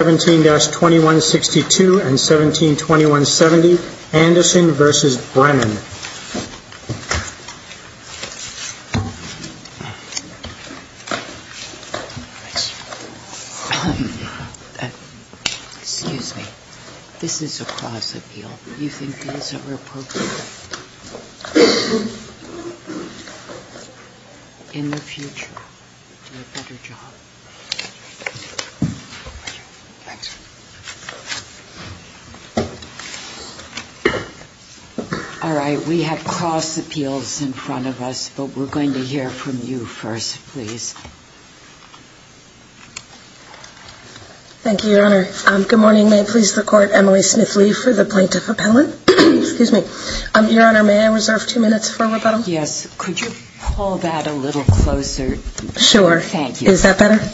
17-2162 and 17-2170, Anderson v. Brennan. All right. We have cross appeals in front of us, but we're going to hear from you first, please. Thank you, Your Honor. Good morning. May it please the Court, Emily Smith Lee for the Plaintiff Appellate. Excuse me. Your Honor, may I reserve two minutes for rebuttal? Yes. Could you pull that a little closer? Sure. Is that better?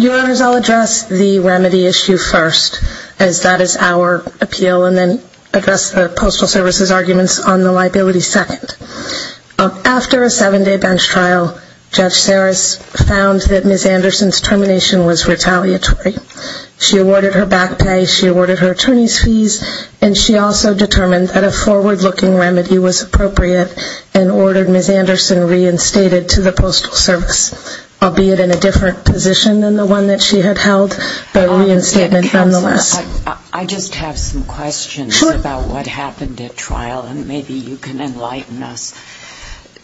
Your Honor, I'll address the remedy issue first, as that is our appeal, and then address the Postal Service's arguments on the liability second. After a seven-day bench trial, Judge Saris found that Ms. Anderson's termination was retaliatory. She awarded her back pay, she awarded her attorney's fees, and she also determined that a forward-looking remedy was appropriate and ordered Ms. Anderson reinstated. I just have some questions about what happened at trial, and maybe you can enlighten us.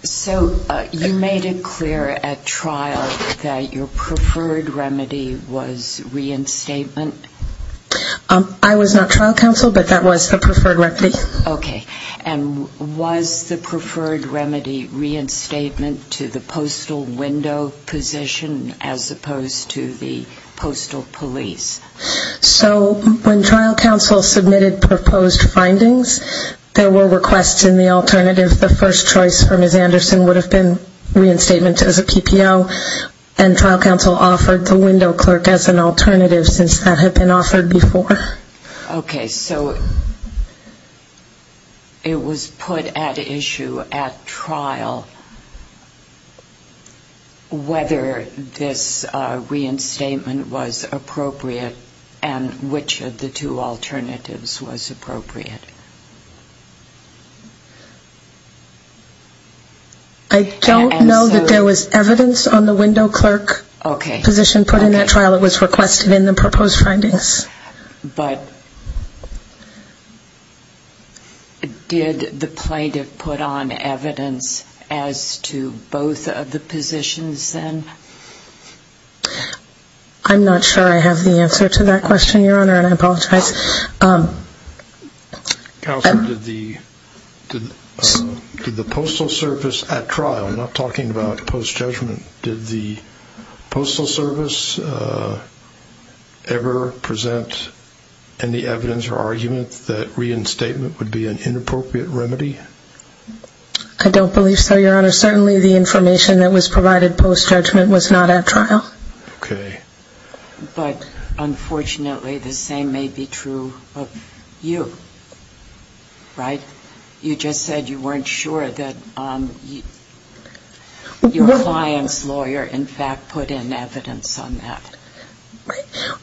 So you made it clear at trial that your preferred remedy was reinstatement? I was not trial counsel, but that was the preferred remedy. Okay. And was the preferred remedy reinstatement to the postal window position, as opposed to the postal police? So when trial counsel submitted proposed findings, there were requests in the alternative. The first choice for Ms. Anderson would have been reinstatement as a PPO, and trial counsel offered the window clerk as an alternative, since that had been offered before. Okay. So it was put at issue at trial whether this reinstatement was appropriate, and which of the two alternatives was appropriate. I don't know that there was evidence on the window clerk position put in that trial that was requested in the proposed findings. But did the plaintiff put on evidence as to both of the positions then? I'm not sure I have the answer to that question, Your Honor, and I apologize. Counsel, did the postal service at trial, I'm not talking about post-judgment, did the postal service ever present evidence that the window clerk was appropriate? Any evidence or argument that reinstatement would be an inappropriate remedy? I don't believe so, Your Honor. Certainly the information that was provided post-judgment was not at trial. Okay. But, unfortunately, the same may be true of you, right? You just said you weren't sure that your client's lawyer, in fact, put in evidence on that.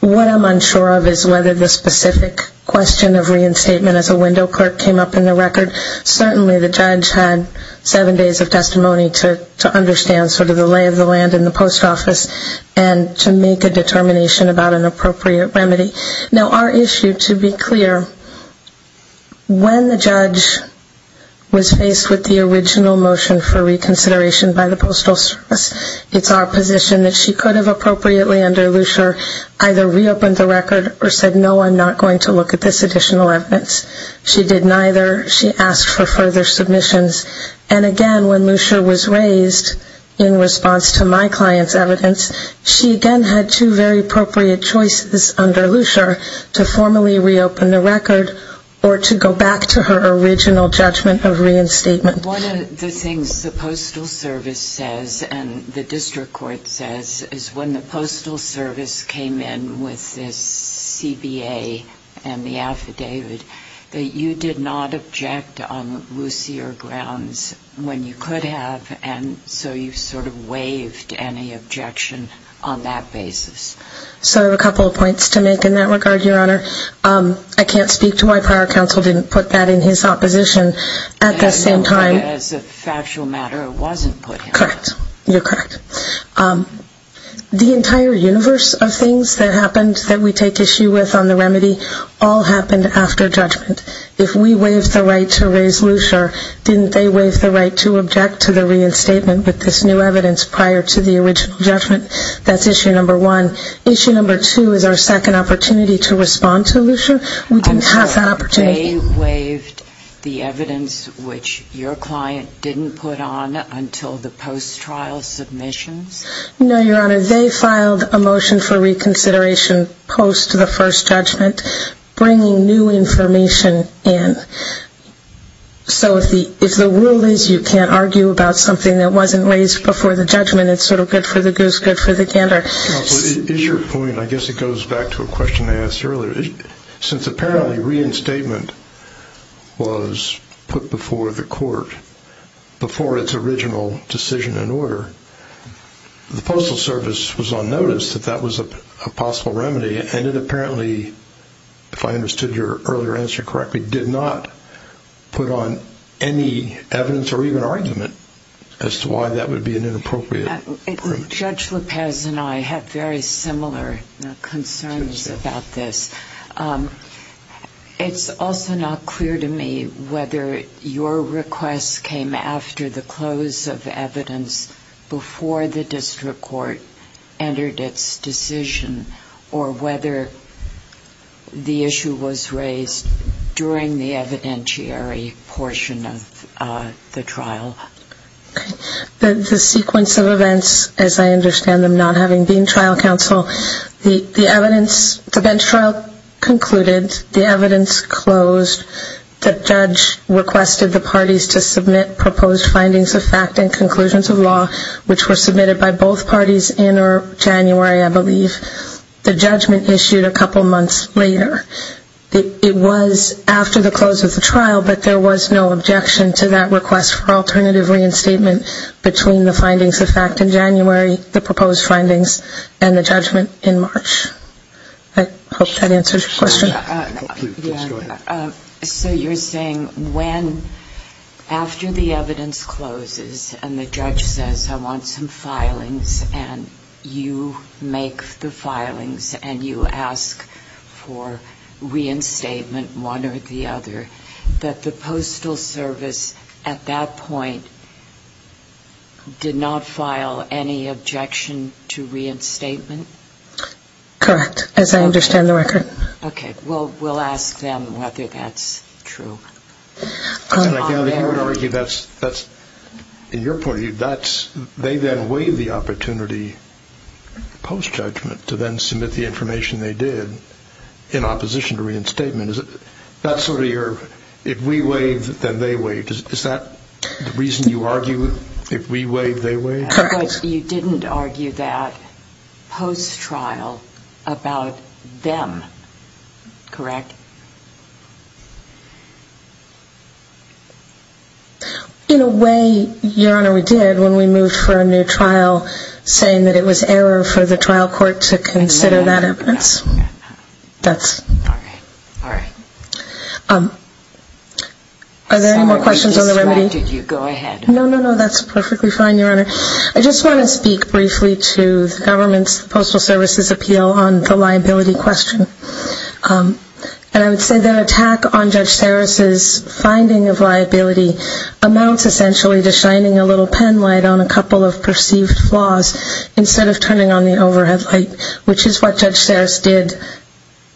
What I'm unsure of is whether the specific question of reinstatement as a window clerk came up in the record. Certainly the judge had seven days of testimony to understand sort of the lay of the land in the post office and to make a determination about an appropriate remedy. Now, our issue, to be clear, when the judge was faced with the original motion for reconsideration by the postal service, it's our position that she could have appropriately underlined it. But she did not. She asked for further submissions. And, again, when Lucia was raised in response to my client's evidence, she again had two very appropriate choices under Lucia to formally reopen the record or to go back to her original judgment of reinstatement. One of the things the postal service says and the district court says is when the postal service is going to reopen the record, it's going to have to go back to the original judgment of reinstatement. And I'm not sure that the postal service came in with this CBA and the affidavit that you did not object on Lucia grounds when you could have and so you sort of waived any objection on that basis. So a couple of points to make in that regard, Your Honor. I can't speak to why prior counsel didn't put that in his opposition at the same time. As a factual matter, it wasn't put in. Correct. You're correct. The entire universe of things that happened that we take issue with on the remedy all happened after judgment. If we waived the right to raise Lucia, didn't they waive the right to object to the reinstatement with this new evidence prior to the original judgment? That's issue number one. Issue number two is our second opportunity to respond to Lucia. They waived the evidence which your client didn't put on until the post-trial submissions? No, Your Honor. They filed a motion for reconsideration post the first judgment bringing new information in. So if the rule is you can't argue about something that wasn't raised before the judgment, it's sort of good for the goose, good for the gander. Is your point, I guess it goes back to a question I asked earlier. Since apparently reinstatement was put before the court, before its original decision and order, the Postal Service was on notice that that was a possible remedy and it apparently, if I understood your earlier answer correctly, did not put on any evidence or even argument as to why that would be an inappropriate remedy. Judge Lopez and I have very similar concerns about this. It's also not clear to me whether your request came after the close of evidence before the district court entered its decision or whether the issue was raised during the evidentiary portion of the trial. The sequence of events, as I understand them not having been trial counsel, the bench trial concluded, the evidence closed, the judge requested the parties to submit proposed findings of fact and conclusions of law, which were submitted by both parties in or January, I believe. The judgment issued a couple months later. It was after the close of the trial, but there was no objection to that request for alternative reinstatement between the findings of fact in January, the proposed findings, and the judgment in March. I hope that answers your question. So you're saying when, after the evidence closes and the judge says I want some filings and you make the filings and you ask for reinstatement one or the other, that the Postal Service at that point did not file any objection to reinstatement? Correct, as I understand the record. Okay. Well, we'll ask them whether that's true. And I gather you would argue that's, in your point of view, they then waive the opportunity post-judgment to then submit the information they did in opposition to reinstatement. That's sort of your if we waive, then they waive. Is that the reason you argue if we waive, they waive? You didn't argue that post-trial about them, correct? In a way, Your Honor, we did when we moved for a new trial, saying that it was error for the trial court to consider that evidence. All right. Are there any more questions on the remedy? No, no, no, that's perfectly fine, Your Honor. I just want to speak briefly to the government's Postal Service's appeal on the liability question. And I would say that an attack on Judge Saris's finding of liability amounts essentially to shining a little penlight on a couple of perceived flaws instead of turning on the overhead light, which is what Judge Saris did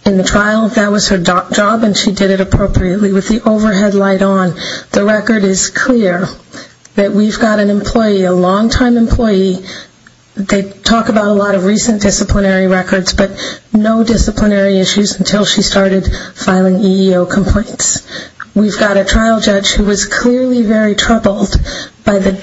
in the trial. That was her job and she did it appropriately with the overhead light on. The record is clear that we've got an employee, a long-time employee. They talk about a lot of recent disciplinary records, but no disciplinary issues until she started filing EEO complaints. We've got a trial judge who was clearly very troubled by the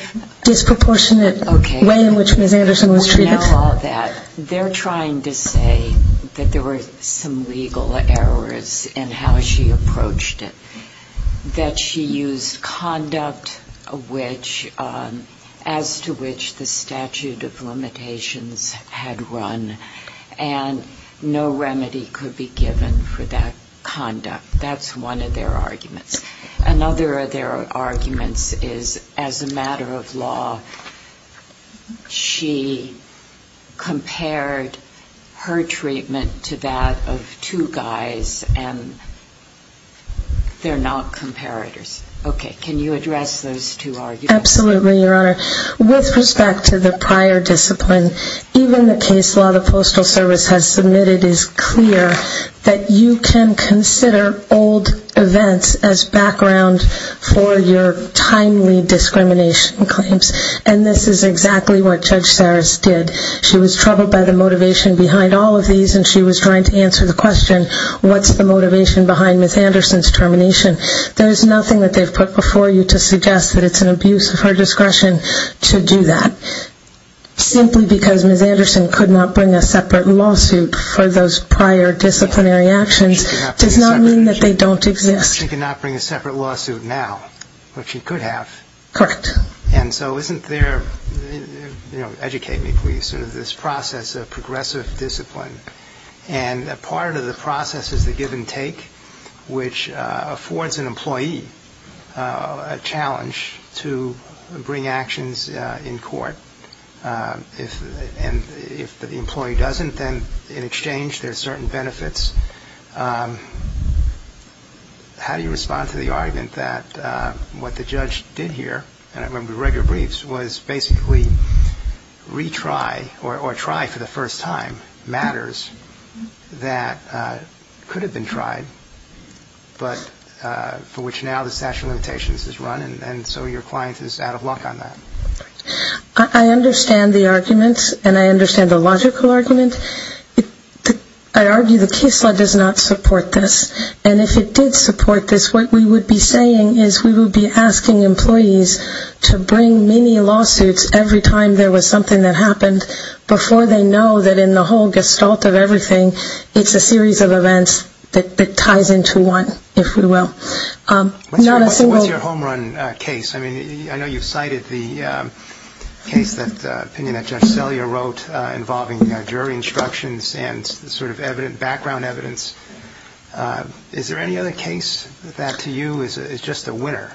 disproportionate way in which Ms. Anderson was treated. We know all that. They're trying to say that there were some legal errors in how she approached it, that she used conduct as to which the statute of limitations had run, and no remedy could be given for that conduct. That's one of their arguments. Another of their arguments is as a matter of law, she compared her treatment to that of two guys and they're not comparators. Okay. Can you address those two arguments? Absolutely, Your Honor. With respect to the prior discipline, even the case law the Postal Service has submitted is clear that you can consider old events as background for your timely discrimination claims. And this is exactly what Judge Saris did. She was troubled by the motivation behind all of these and she was trying to answer the question, what's the motivation behind Ms. Anderson's termination? There's nothing that they've put before you to suggest that it's an abuse of her discretion to do that. Simply because Ms. Anderson could not bring a separate lawsuit for those prior disciplinary actions does not mean that they don't exist. She cannot bring a separate lawsuit now, but she could have. Correct. And so isn't there, educate me please, sort of this process of progressive discipline, and part of the process is the give and take, which affords an employee a challenge to bring actions in court. And if the employee doesn't, then in exchange there's certain benefits. How do you respond to the argument that what the judge did here, and I remember the regular briefs, was basically retry, or try for the first time, matters that could have been tried, but for which now the statute of limitations is run, and so your client is out of luck on that? I understand the arguments, and I understand the logical argument. I argue the case law does not support this, and if it did support this, what we would be saying is we would be asking employees to bring many lawsuits every time there was something that happened before they know that in the whole gestalt of everything, it's a series of events that ties into one, if we will. What's your home run case? I know you've cited the case, the opinion that Judge Sellier wrote, involving jury instructions and sort of background evidence. Is there any other case that to you is just a winner?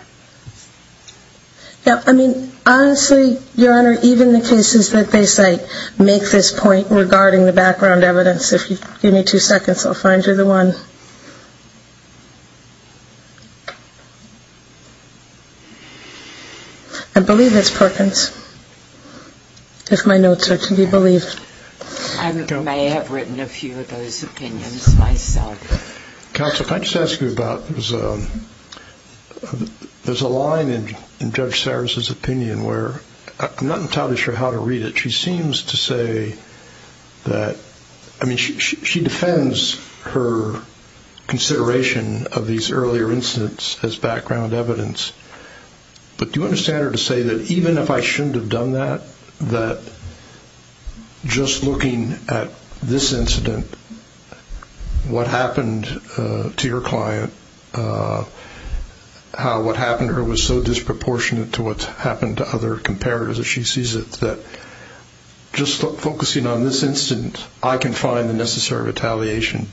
Honestly, Your Honor, even the cases that they cite make this point regarding the background evidence. If you give me two seconds, I'll find you the one. I believe it's Perkins, if my notes are to be believed. I may have written a few of those opinions myself. Counsel, if I could just ask you about, there's a line in Judge Serra's opinion where, I'm not entirely sure how to read it. She seems to say that, I mean, she defends her consideration of these earlier incidents as background evidence, but do you understand her to say that even if I shouldn't have done that, that just looking at this incident, what happened to your client, how what happened to her was so disproportionate to what happened to other comparatives that she sees it that just focusing on this incident, I can find the necessary retaliation.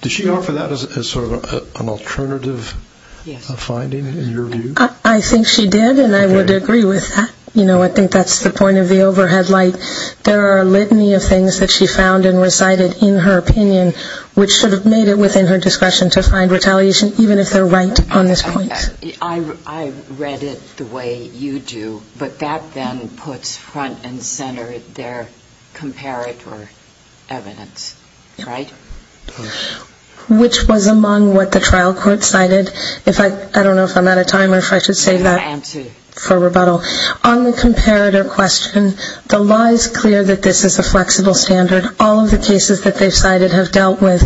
Does she offer that as sort of an alternative finding in your view? I think she did, and I would agree with that. I think that's the point of the overhead light. There are a litany of things that she found and recited in her opinion, which should have made it within her discretion to find retaliation, even if they're right on this point. I read it the way you do, but that then puts front and center their comparative evidence, right? Which was among what the trial court cited. I don't know if I'm out of time or if I should save that for rebuttal. On the comparative question, the law is clear that this is a flexible standard. All of the cases that they've cited have dealt with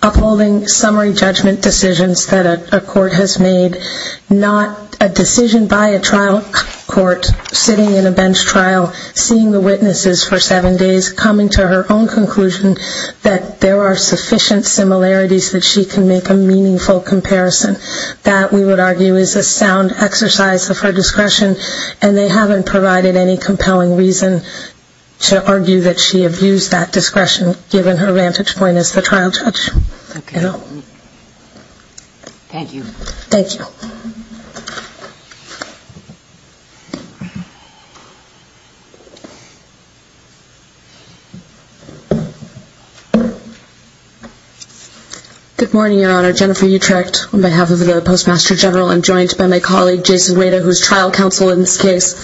upholding summary judgment decisions that a court has made, not a decision by a trial court sitting in a bench trial, seeing the witnesses for seven days, coming to her own conclusion that there are sufficient similarities that she can make a meaningful comparison. That, we would argue, is a sound exercise of her discretion, and they haven't provided any compelling reason to argue that she abused that discretion, given her vantage point as the trial judge. Thank you. Good morning, Your Honor. Jennifer Utrecht, on behalf of the Postmaster General. I'm joined by my colleague, Jason Wada, who is trial counsel in this case.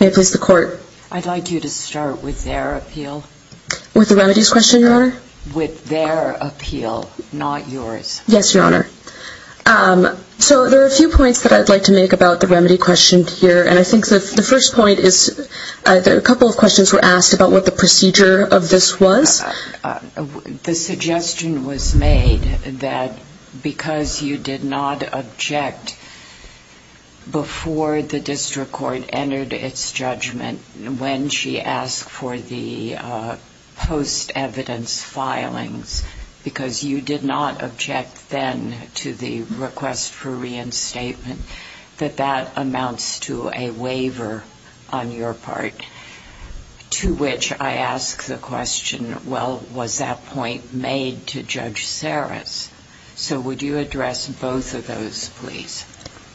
May I please have the court? I'd like you to start with their appeal. With the remedies question, Your Honor? With their appeal, not yours. Yes, Your Honor. So there are a few points that I'd like to make about the remedy question here, and I think the first point is a couple of questions were asked about what the procedure of this was. The suggestion was made that because you did not object before the district court entered its judgment, when she asked for the post-evidence filings, because you did not object then to the request for reinstatement, that that amounts to a waiver on your part, to which I ask the question, well, was that point made to Judge Saris? So would you address both of those, please?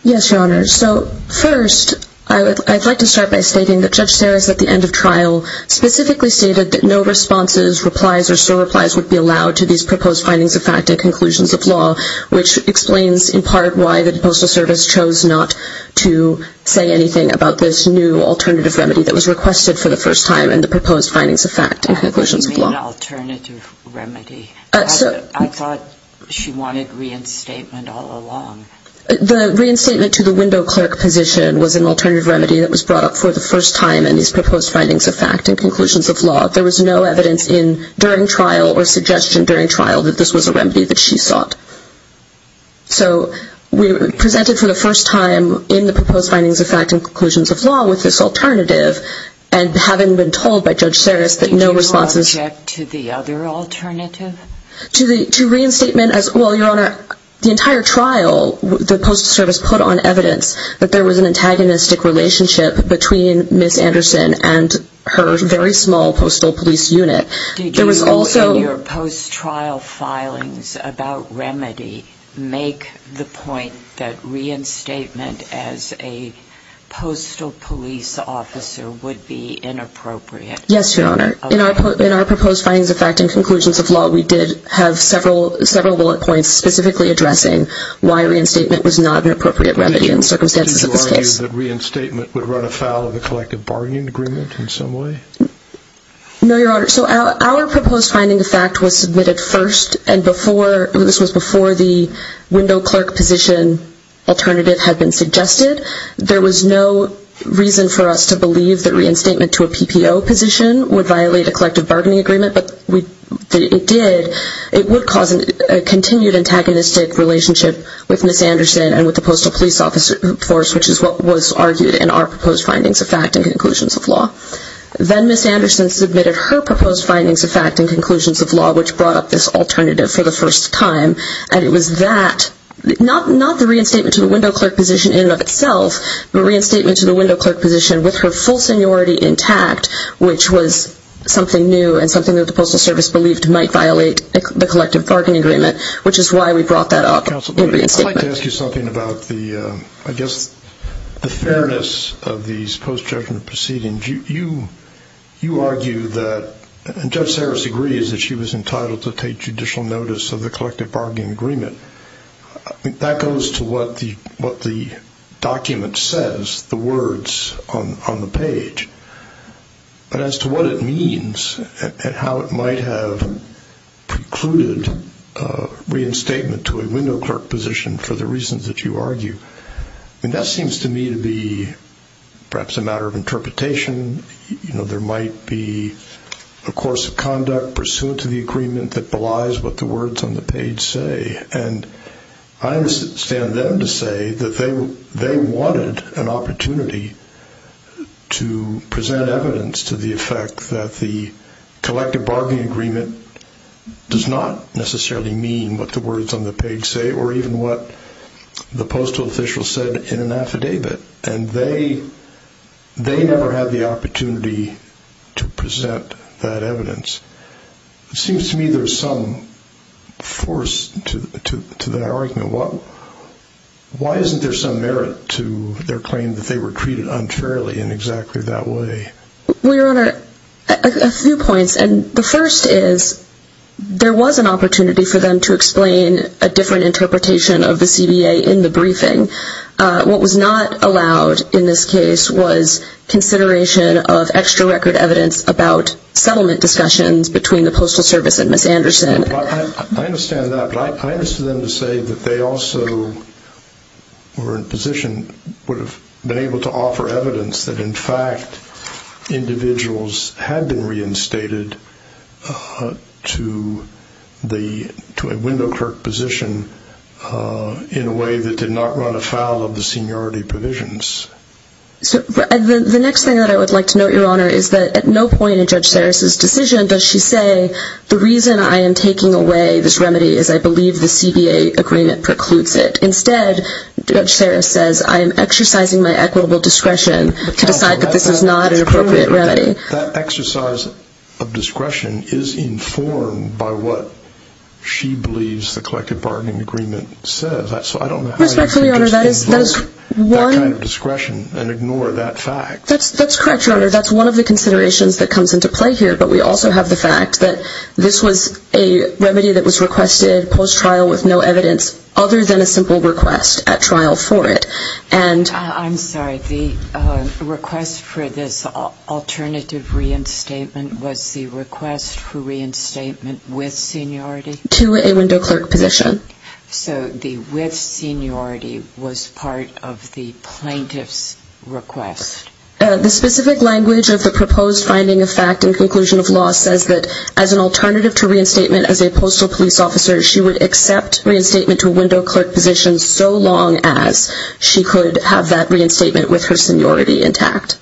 Yes, Your Honor. So first, I'd like to start by stating that Judge Saris, at the end of trial, specifically stated that no responses, replies, or surreplies would be allowed to these proposed findings of fact at conclusions of law, which explains in part why the Postal Service chose not to say anything about this new alternative remedy that was requested for the first time in the proposed findings of fact and conclusions of law. What do you mean, alternative remedy? I thought she wanted reinstatement all along. The reinstatement to the window clerk position was an alternative remedy that was brought up for the first time in these proposed findings of fact and conclusions of law. There was no evidence during trial or suggestion during trial that this was a remedy that she sought. So we presented for the first time in the proposed findings of fact and conclusions of law with this alternative, and having been told by Judge Saris that no responses... Did you object to the other alternative? To reinstatement as... Well, Your Honor, the entire trial, the Postal Service put on evidence that there was an antagonistic relationship between Ms. Anderson and her very small postal police unit. Did you in your post-trial filings about remedy make the point that reinstatement as a postal police officer would be inappropriate? Yes, Your Honor. In our proposed findings of fact and conclusions of law, we did have several bullet points specifically addressing why reinstatement was not an appropriate remedy in the circumstances of this case. Did you argue that reinstatement would run afoul of the collective bargaining agreement in some way? No, Your Honor. So our proposed finding of fact was submitted first, and this was before the window clerk position alternative had been suggested. There was no reason for us to believe that reinstatement to a PPO position would violate a collective bargaining agreement, but it did. It would cause a continued antagonistic relationship with Ms. Anderson and with the postal police force, which is what was argued in our proposed findings of fact and conclusions of law. Then Ms. Anderson submitted her proposed findings of fact and conclusions of law, which brought up this alternative for the first time, and it was that, not the reinstatement to the window clerk position in and of itself, but reinstatement to the window clerk position with her full seniority intact, which was something new and something that the Postal Service believed might violate the collective bargaining agreement, which is why we brought that up in reinstatement. I'd like to ask you something about the fairness of these post-judgment proceedings. You argue that, and Judge Saris agrees that she was entitled to take judicial notice of the collective bargaining agreement. That goes to what the document says, the words on the page. But as to what it means and how it might have precluded reinstatement to a window clerk position for the reasons that you argue, that seems to me to be perhaps a matter of interpretation. There might be a course of conduct pursuant to the agreement that belies what the words on the page say, and I understand them to say that they wanted an opportunity to present evidence to the effect that the collective bargaining agreement does not necessarily mean what the words on the page say or even what the postal official said in an affidavit, and they never had the opportunity to present that evidence. It seems to me there's some force to that argument. Why isn't there some merit to their claim that they were treated unfairly in exactly that way? Well, Your Honor, a few points. The first is there was an opportunity for them to explain a different interpretation of the CBA in the briefing. What was not allowed in this case was consideration of extra record evidence about settlement discussions between the Postal Service and Ms. Anderson. I understand that, but I understand them to say that they also were in a position and would have been able to offer evidence that, in fact, individuals had been reinstated to a window clerk position in a way that did not run afoul of the seniority provisions. The next thing that I would like to note, Your Honor, is that at no point in Judge Sarris' decision does she say, the reason I am taking away this remedy is I believe the CBA agreement precludes it. Instead, Judge Sarris says I am exercising my equitable discretion to decide that this is not an appropriate remedy. That exercise of discretion is informed by what she believes the collective bargaining agreement says. I don't know how you can just invoke that kind of discretion and ignore that fact. That's correct, Your Honor. That's one of the considerations that comes into play here, but we also have the fact that this was a remedy that was requested post-trial with no evidence other than a simple request at trial for it. I'm sorry. The request for this alternative reinstatement was the request for reinstatement with seniority? To a window clerk position. So the with seniority was part of the plaintiff's request? The specific language of the proposed finding of fact and conclusion of law says that as an alternative to reinstatement as a postal police officer, she would accept reinstatement to a window clerk position so long as she could have that reinstatement with her seniority intact.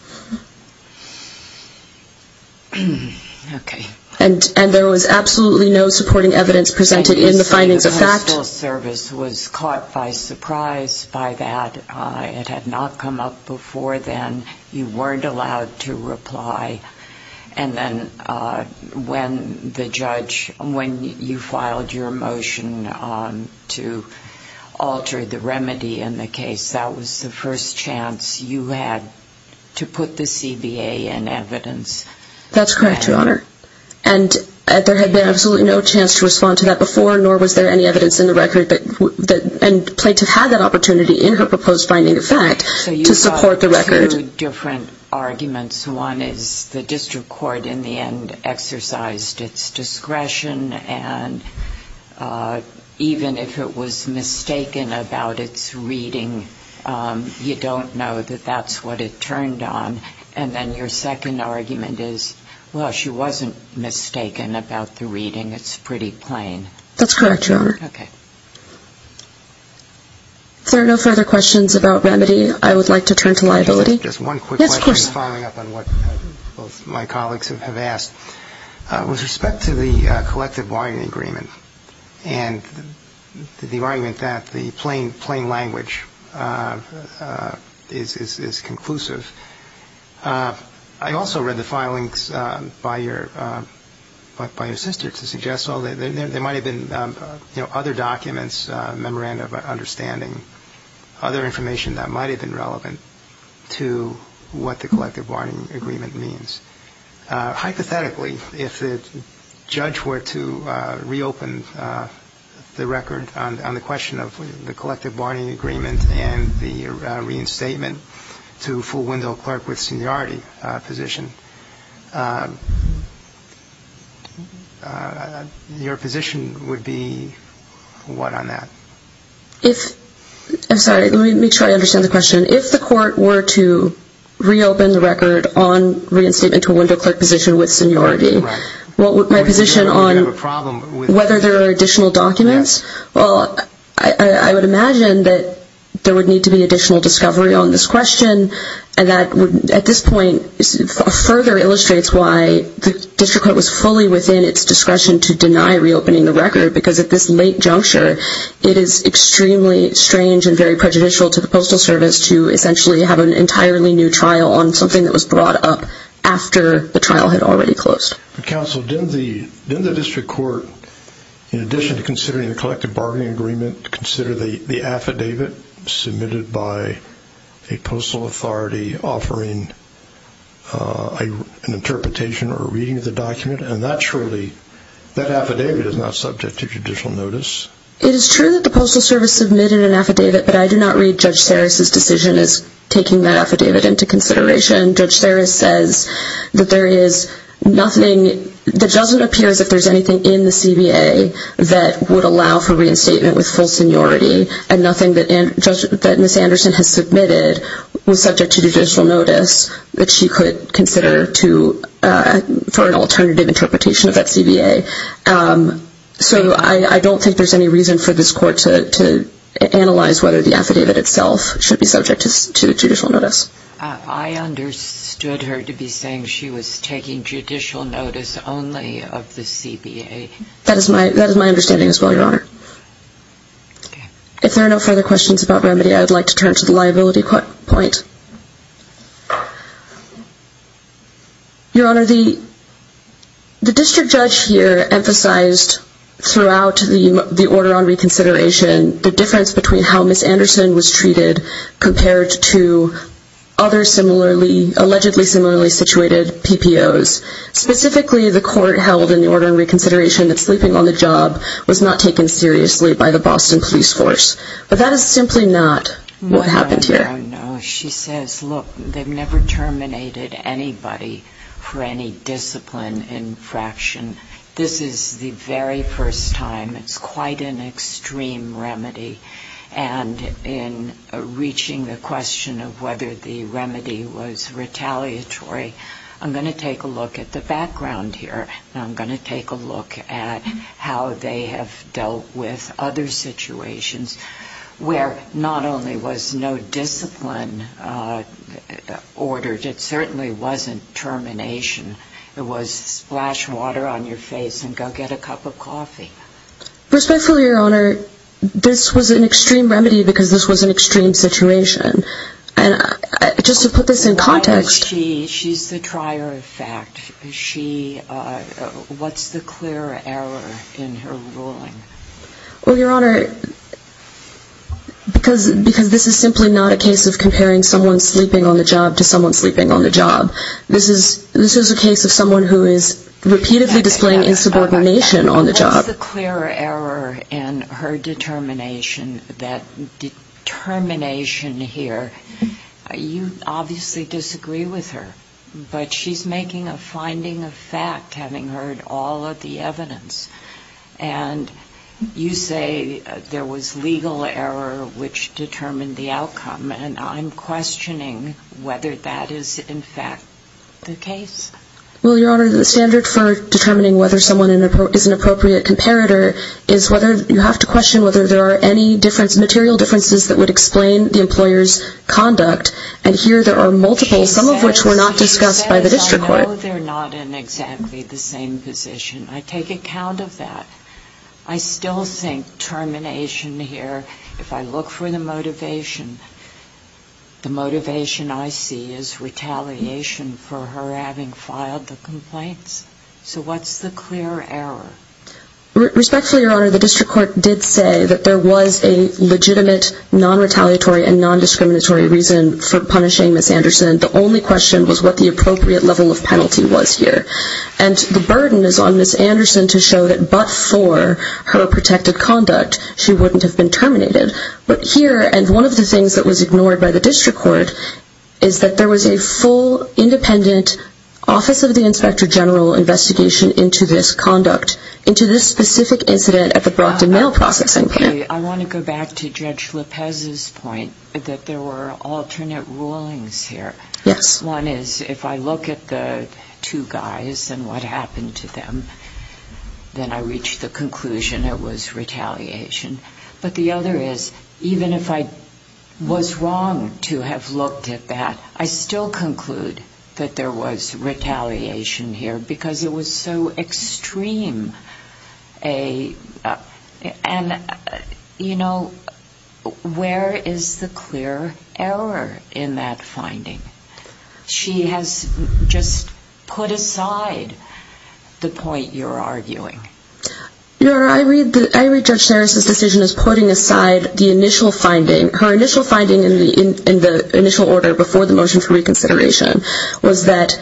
Okay. And there was absolutely no supporting evidence presented in the findings of fact? The postal service was caught by surprise by that. It had not come up before then. You weren't allowed to reply. And then when the judge, when you filed your motion to alter the remedy in the case, that was the first chance you had to put the CBA in evidence? That's correct, Your Honor. And there had been absolutely no chance to respond to that before, nor was there any evidence in the record, and the plaintiff had that opportunity in her proposed finding of fact to support the record. So you have two different arguments. One is the district court in the end exercised its discretion, and even if it was mistaken about its reading, you don't know that that's what it turned on. And then your second argument is, well, she wasn't mistaken about the reading. It's pretty plain. That's correct, Your Honor. If there are no further questions about remedy, I would like to turn to liability. Just one quick question following up on what both my colleagues have asked. With respect to the collective bargaining agreement and the argument that the plain language is conclusive, I also read the filings by your sister to suggest, well, there might have been, you know, other documents, memorandum of understanding, other information that might have been relevant to what the collective bargaining agreement means. Hypothetically, if the judge were to reopen the record on the question of the collective bargaining agreement and the reinstatement to full window clerk with seniority position, your position would be what on that? I'm sorry. Let me make sure I understand the question. If the court were to reopen the record on reinstatement to window clerk position with seniority, my position on whether there are additional documents, well, I would imagine that there would need to be additional discovery on this question and that at this point further illustrates why the district court was fully within its discretion to deny reopening the record because at this late juncture, it is extremely strange and very prejudicial to the Postal Service to essentially have an entirely new trial on something that was brought up after the trial had already closed. Counsel, didn't the district court, in addition to considering the collective bargaining agreement, consider the affidavit submitted by a postal authority offering an interpretation or reading of the document? And that surely, that affidavit is not subject to judicial notice. It is true that the Postal Service submitted an affidavit, but I do not read Judge Sarris' decision as taking that affidavit into consideration. Judge Sarris says that there is nothing, it doesn't appear as if there is anything in the CBA that would allow for reinstatement with full seniority and nothing that Ms. Anderson has submitted was subject to judicial notice that she could consider for an alternative interpretation of that CBA. So I don't think there is any reason for this court to analyze whether the affidavit itself should be subject to judicial notice. I understood her to be saying she was taking judicial notice only of the CBA. That is my understanding as well, Your Honor. If there are no further questions about remedy, I would like to turn to the liability point. Your Honor, the district judge here emphasized throughout the order on reconsideration the difference between how Ms. Anderson was treated compared to other allegedly similarly situated PPOs. Specifically, the court held in the order on reconsideration that sleeping on the job was not taken seriously by the Boston police force. But that is simply not what happened here. No, no, no. She says, look, they've never terminated anybody for any discipline infraction. This is the very first time. It's quite an extreme remedy. And in reaching the question of whether the remedy was retaliatory, I'm going to take a look at the background here. And I'm going to take a look at how they have dealt with other situations where not only was no discipline ordered, it certainly wasn't termination. It was splash water on your face and go get a cup of coffee. Respectfully, Your Honor, this was an extreme remedy because this was an extreme situation. And just to put this in context. She's the trier of fact. What's the clear error in her ruling? Well, Your Honor, because this is simply not a case of comparing someone sleeping on the job to someone sleeping on the job. This is a case of someone who is repeatedly displaying insubordination on the job. What's the clear error in her determination that determination here, you obviously disagree with her. But she's making a finding of fact having heard all of the evidence. And you say there was legal error which determined the outcome. And I'm questioning whether that is, in fact, the case. Well, Your Honor, the standard for determining whether someone is an appropriate comparator is whether you have to question whether there are any material differences that would explain the employer's conduct. And here there are multiple, some of which were not discussed by the district court. I know they're not in exactly the same position. I take account of that. I still think termination here, if I look for the motivation, the motivation I see is retaliation for her having filed the complaints. So what's the clear error? Respectfully, Your Honor, the district court did say that there was a legitimate non-retaliatory and non-discriminatory reason for punishing Ms. Anderson. The only question was what the appropriate level of penalty was here. And the burden is on Ms. Anderson to show that but for her protected conduct, she wouldn't have been terminated. But here, and one of the things that was ignored by the district court, is that there was a full independent Office of the Inspector General investigation into this conduct, into this specific incident at the Brockton Mail Processing Plant. I want to go back to Judge Lopez's point that there were alternate rulings here. One is if I look at the two guys and what happened to them, then I reach the conclusion it was retaliation. But the other is, even if I was wrong to have looked at that, I still conclude that there was retaliation here because it was so extreme. And, you know, where is the clear error in that finding? She has just put aside the point you're arguing. Your Honor, I read Judge Sarris' decision as putting aside the initial finding. Her initial finding in the initial order before the motion for reconsideration was that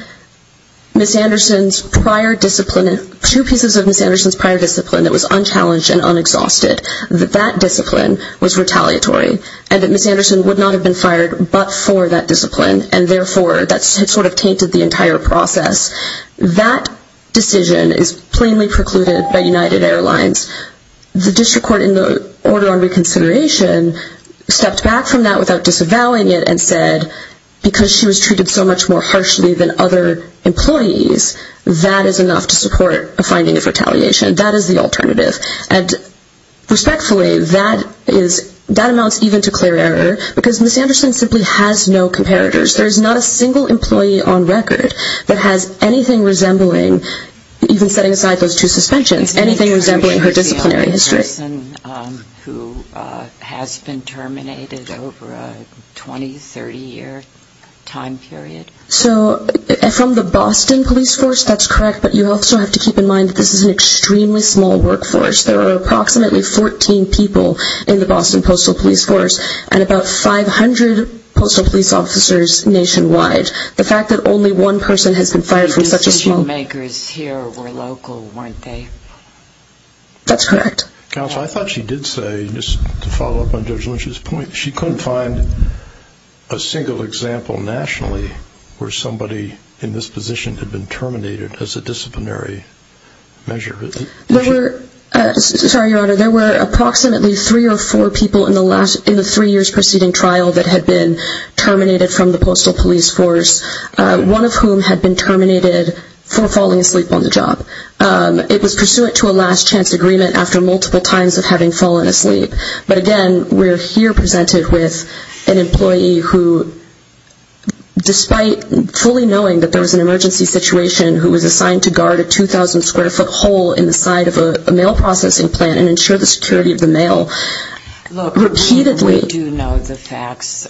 Ms. Anderson's prior discipline, two pieces of Ms. Anderson's prior discipline that was unchallenged and unexhausted, that that discipline was retaliatory and that Ms. Anderson would not have been fired but for that discipline and therefore that sort of tainted the entire process. That decision is plainly precluded by United Airlines. The district court in the order on reconsideration stepped back from that without disavowing it and said because she was treated so much more harshly than other employees, that is enough to support a finding of retaliation. That is the alternative. And respectfully, that amounts even to clear error because Ms. Anderson simply has no comparators. There is not a single employee on record that has anything resembling, even setting aside those two suspensions, anything resembling her disciplinary history. Who has been terminated over a 20, 30 year time period? So from the Boston police force, that's correct, but you also have to keep in mind that this is an extremely small workforce. There are approximately 14 people in the Boston postal police force and about 500 postal police officers nationwide. The fact that only one person has been fired from such a small... That's correct. Counsel, I thought she did say, just to follow up on Judge Lynch's point, she couldn't find a single example nationally where somebody in this position had been terminated as a disciplinary measure. There were approximately three or four people in the three years preceding trial that had been terminated from the postal police force, one of whom had been terminated for falling asleep on the job. It was pursuant to a last chance agreement after multiple times of having fallen asleep. But again, we're here presented with an employee who, despite fully knowing that there was an emergency situation, who was assigned to guard a 2,000 square foot hole in the side of a mail processing plant and ensure the security of the mail, repeatedly... Look, we do know the facts.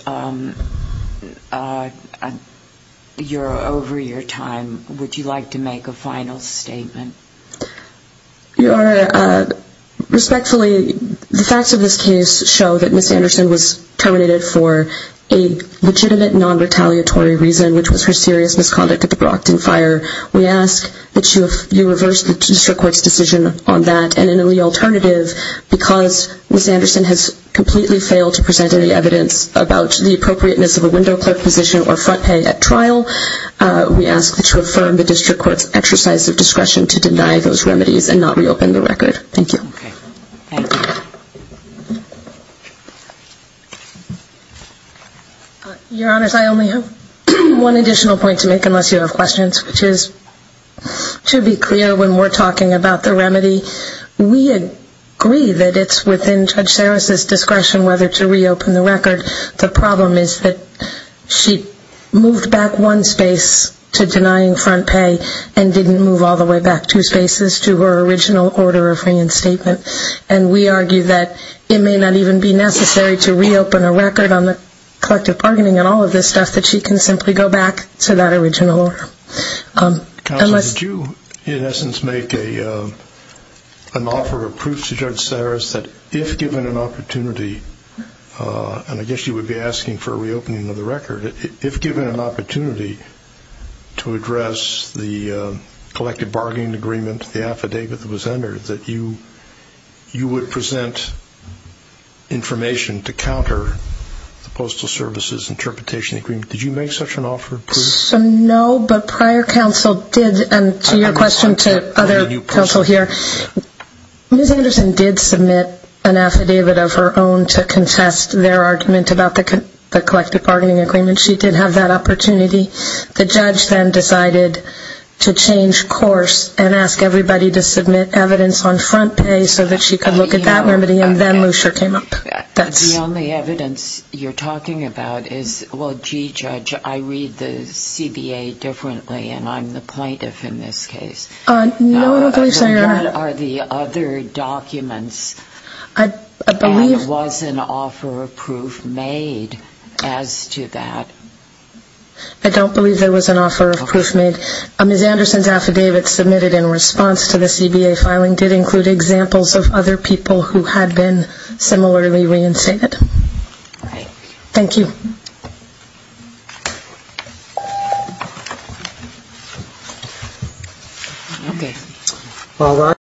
You're over your time. Would you like to make a final statement? Your Honor, respectfully, the facts of this case show that Ms. Anderson was terminated for a legitimate non-retaliatory reason, which was her serious misconduct at the Brockton fire. We ask that you reverse the district court's decision on that, and in the alternative, because Ms. Anderson has completely failed to present any evidence about the appropriateness of a window clerk position or front pay at trial, we ask that you affirm the district court's exercise of discretion to deny those remedies and not reopen the record. Thank you. Your Honors, I only have one additional point to make, unless you have questions, which should be clear when we're talking about the remedy. We agree that it's within Judge Sarris' discretion whether to reopen the record. The problem is that she moved back one space to denying front pay and didn't move all the way back two spaces to her original order of reinstatement, and we argue that it may not even be necessary to reopen a record on the collective bargaining and all of this stuff, that she can simply go back to that original order. Counsel, did you, in essence, make an offer of proof to Judge Sarris that if given an opportunity, and again, she would be asking for a reopening of the record, if given an opportunity to address the collective bargaining agreement, the affidavit that was entered, that you would present information to counter the Postal Services Interpretation Agreement? Did you make such an offer of proof? No, but prior counsel did, and to your question to other counsel here, Ms. Anderson did submit an affidavit of her own to address the collective bargaining agreement. She did have that opportunity. The judge then decided to change course and ask everybody to submit evidence on front pay so that she could look at that remedy, and then Lucia came up. The only evidence you're talking about is, well, gee, Judge, I read the CBA differently, and I'm the plaintiff in this case. No, I don't believe so, Your Honor. But what are the other documents? And was an offer of proof made as to that? I don't believe there was an offer of proof made. Ms. Anderson's affidavit submitted in response to the CBA filing did include examples of other people who had been similarly reinstated. Thank you. Thank you, Your Honor.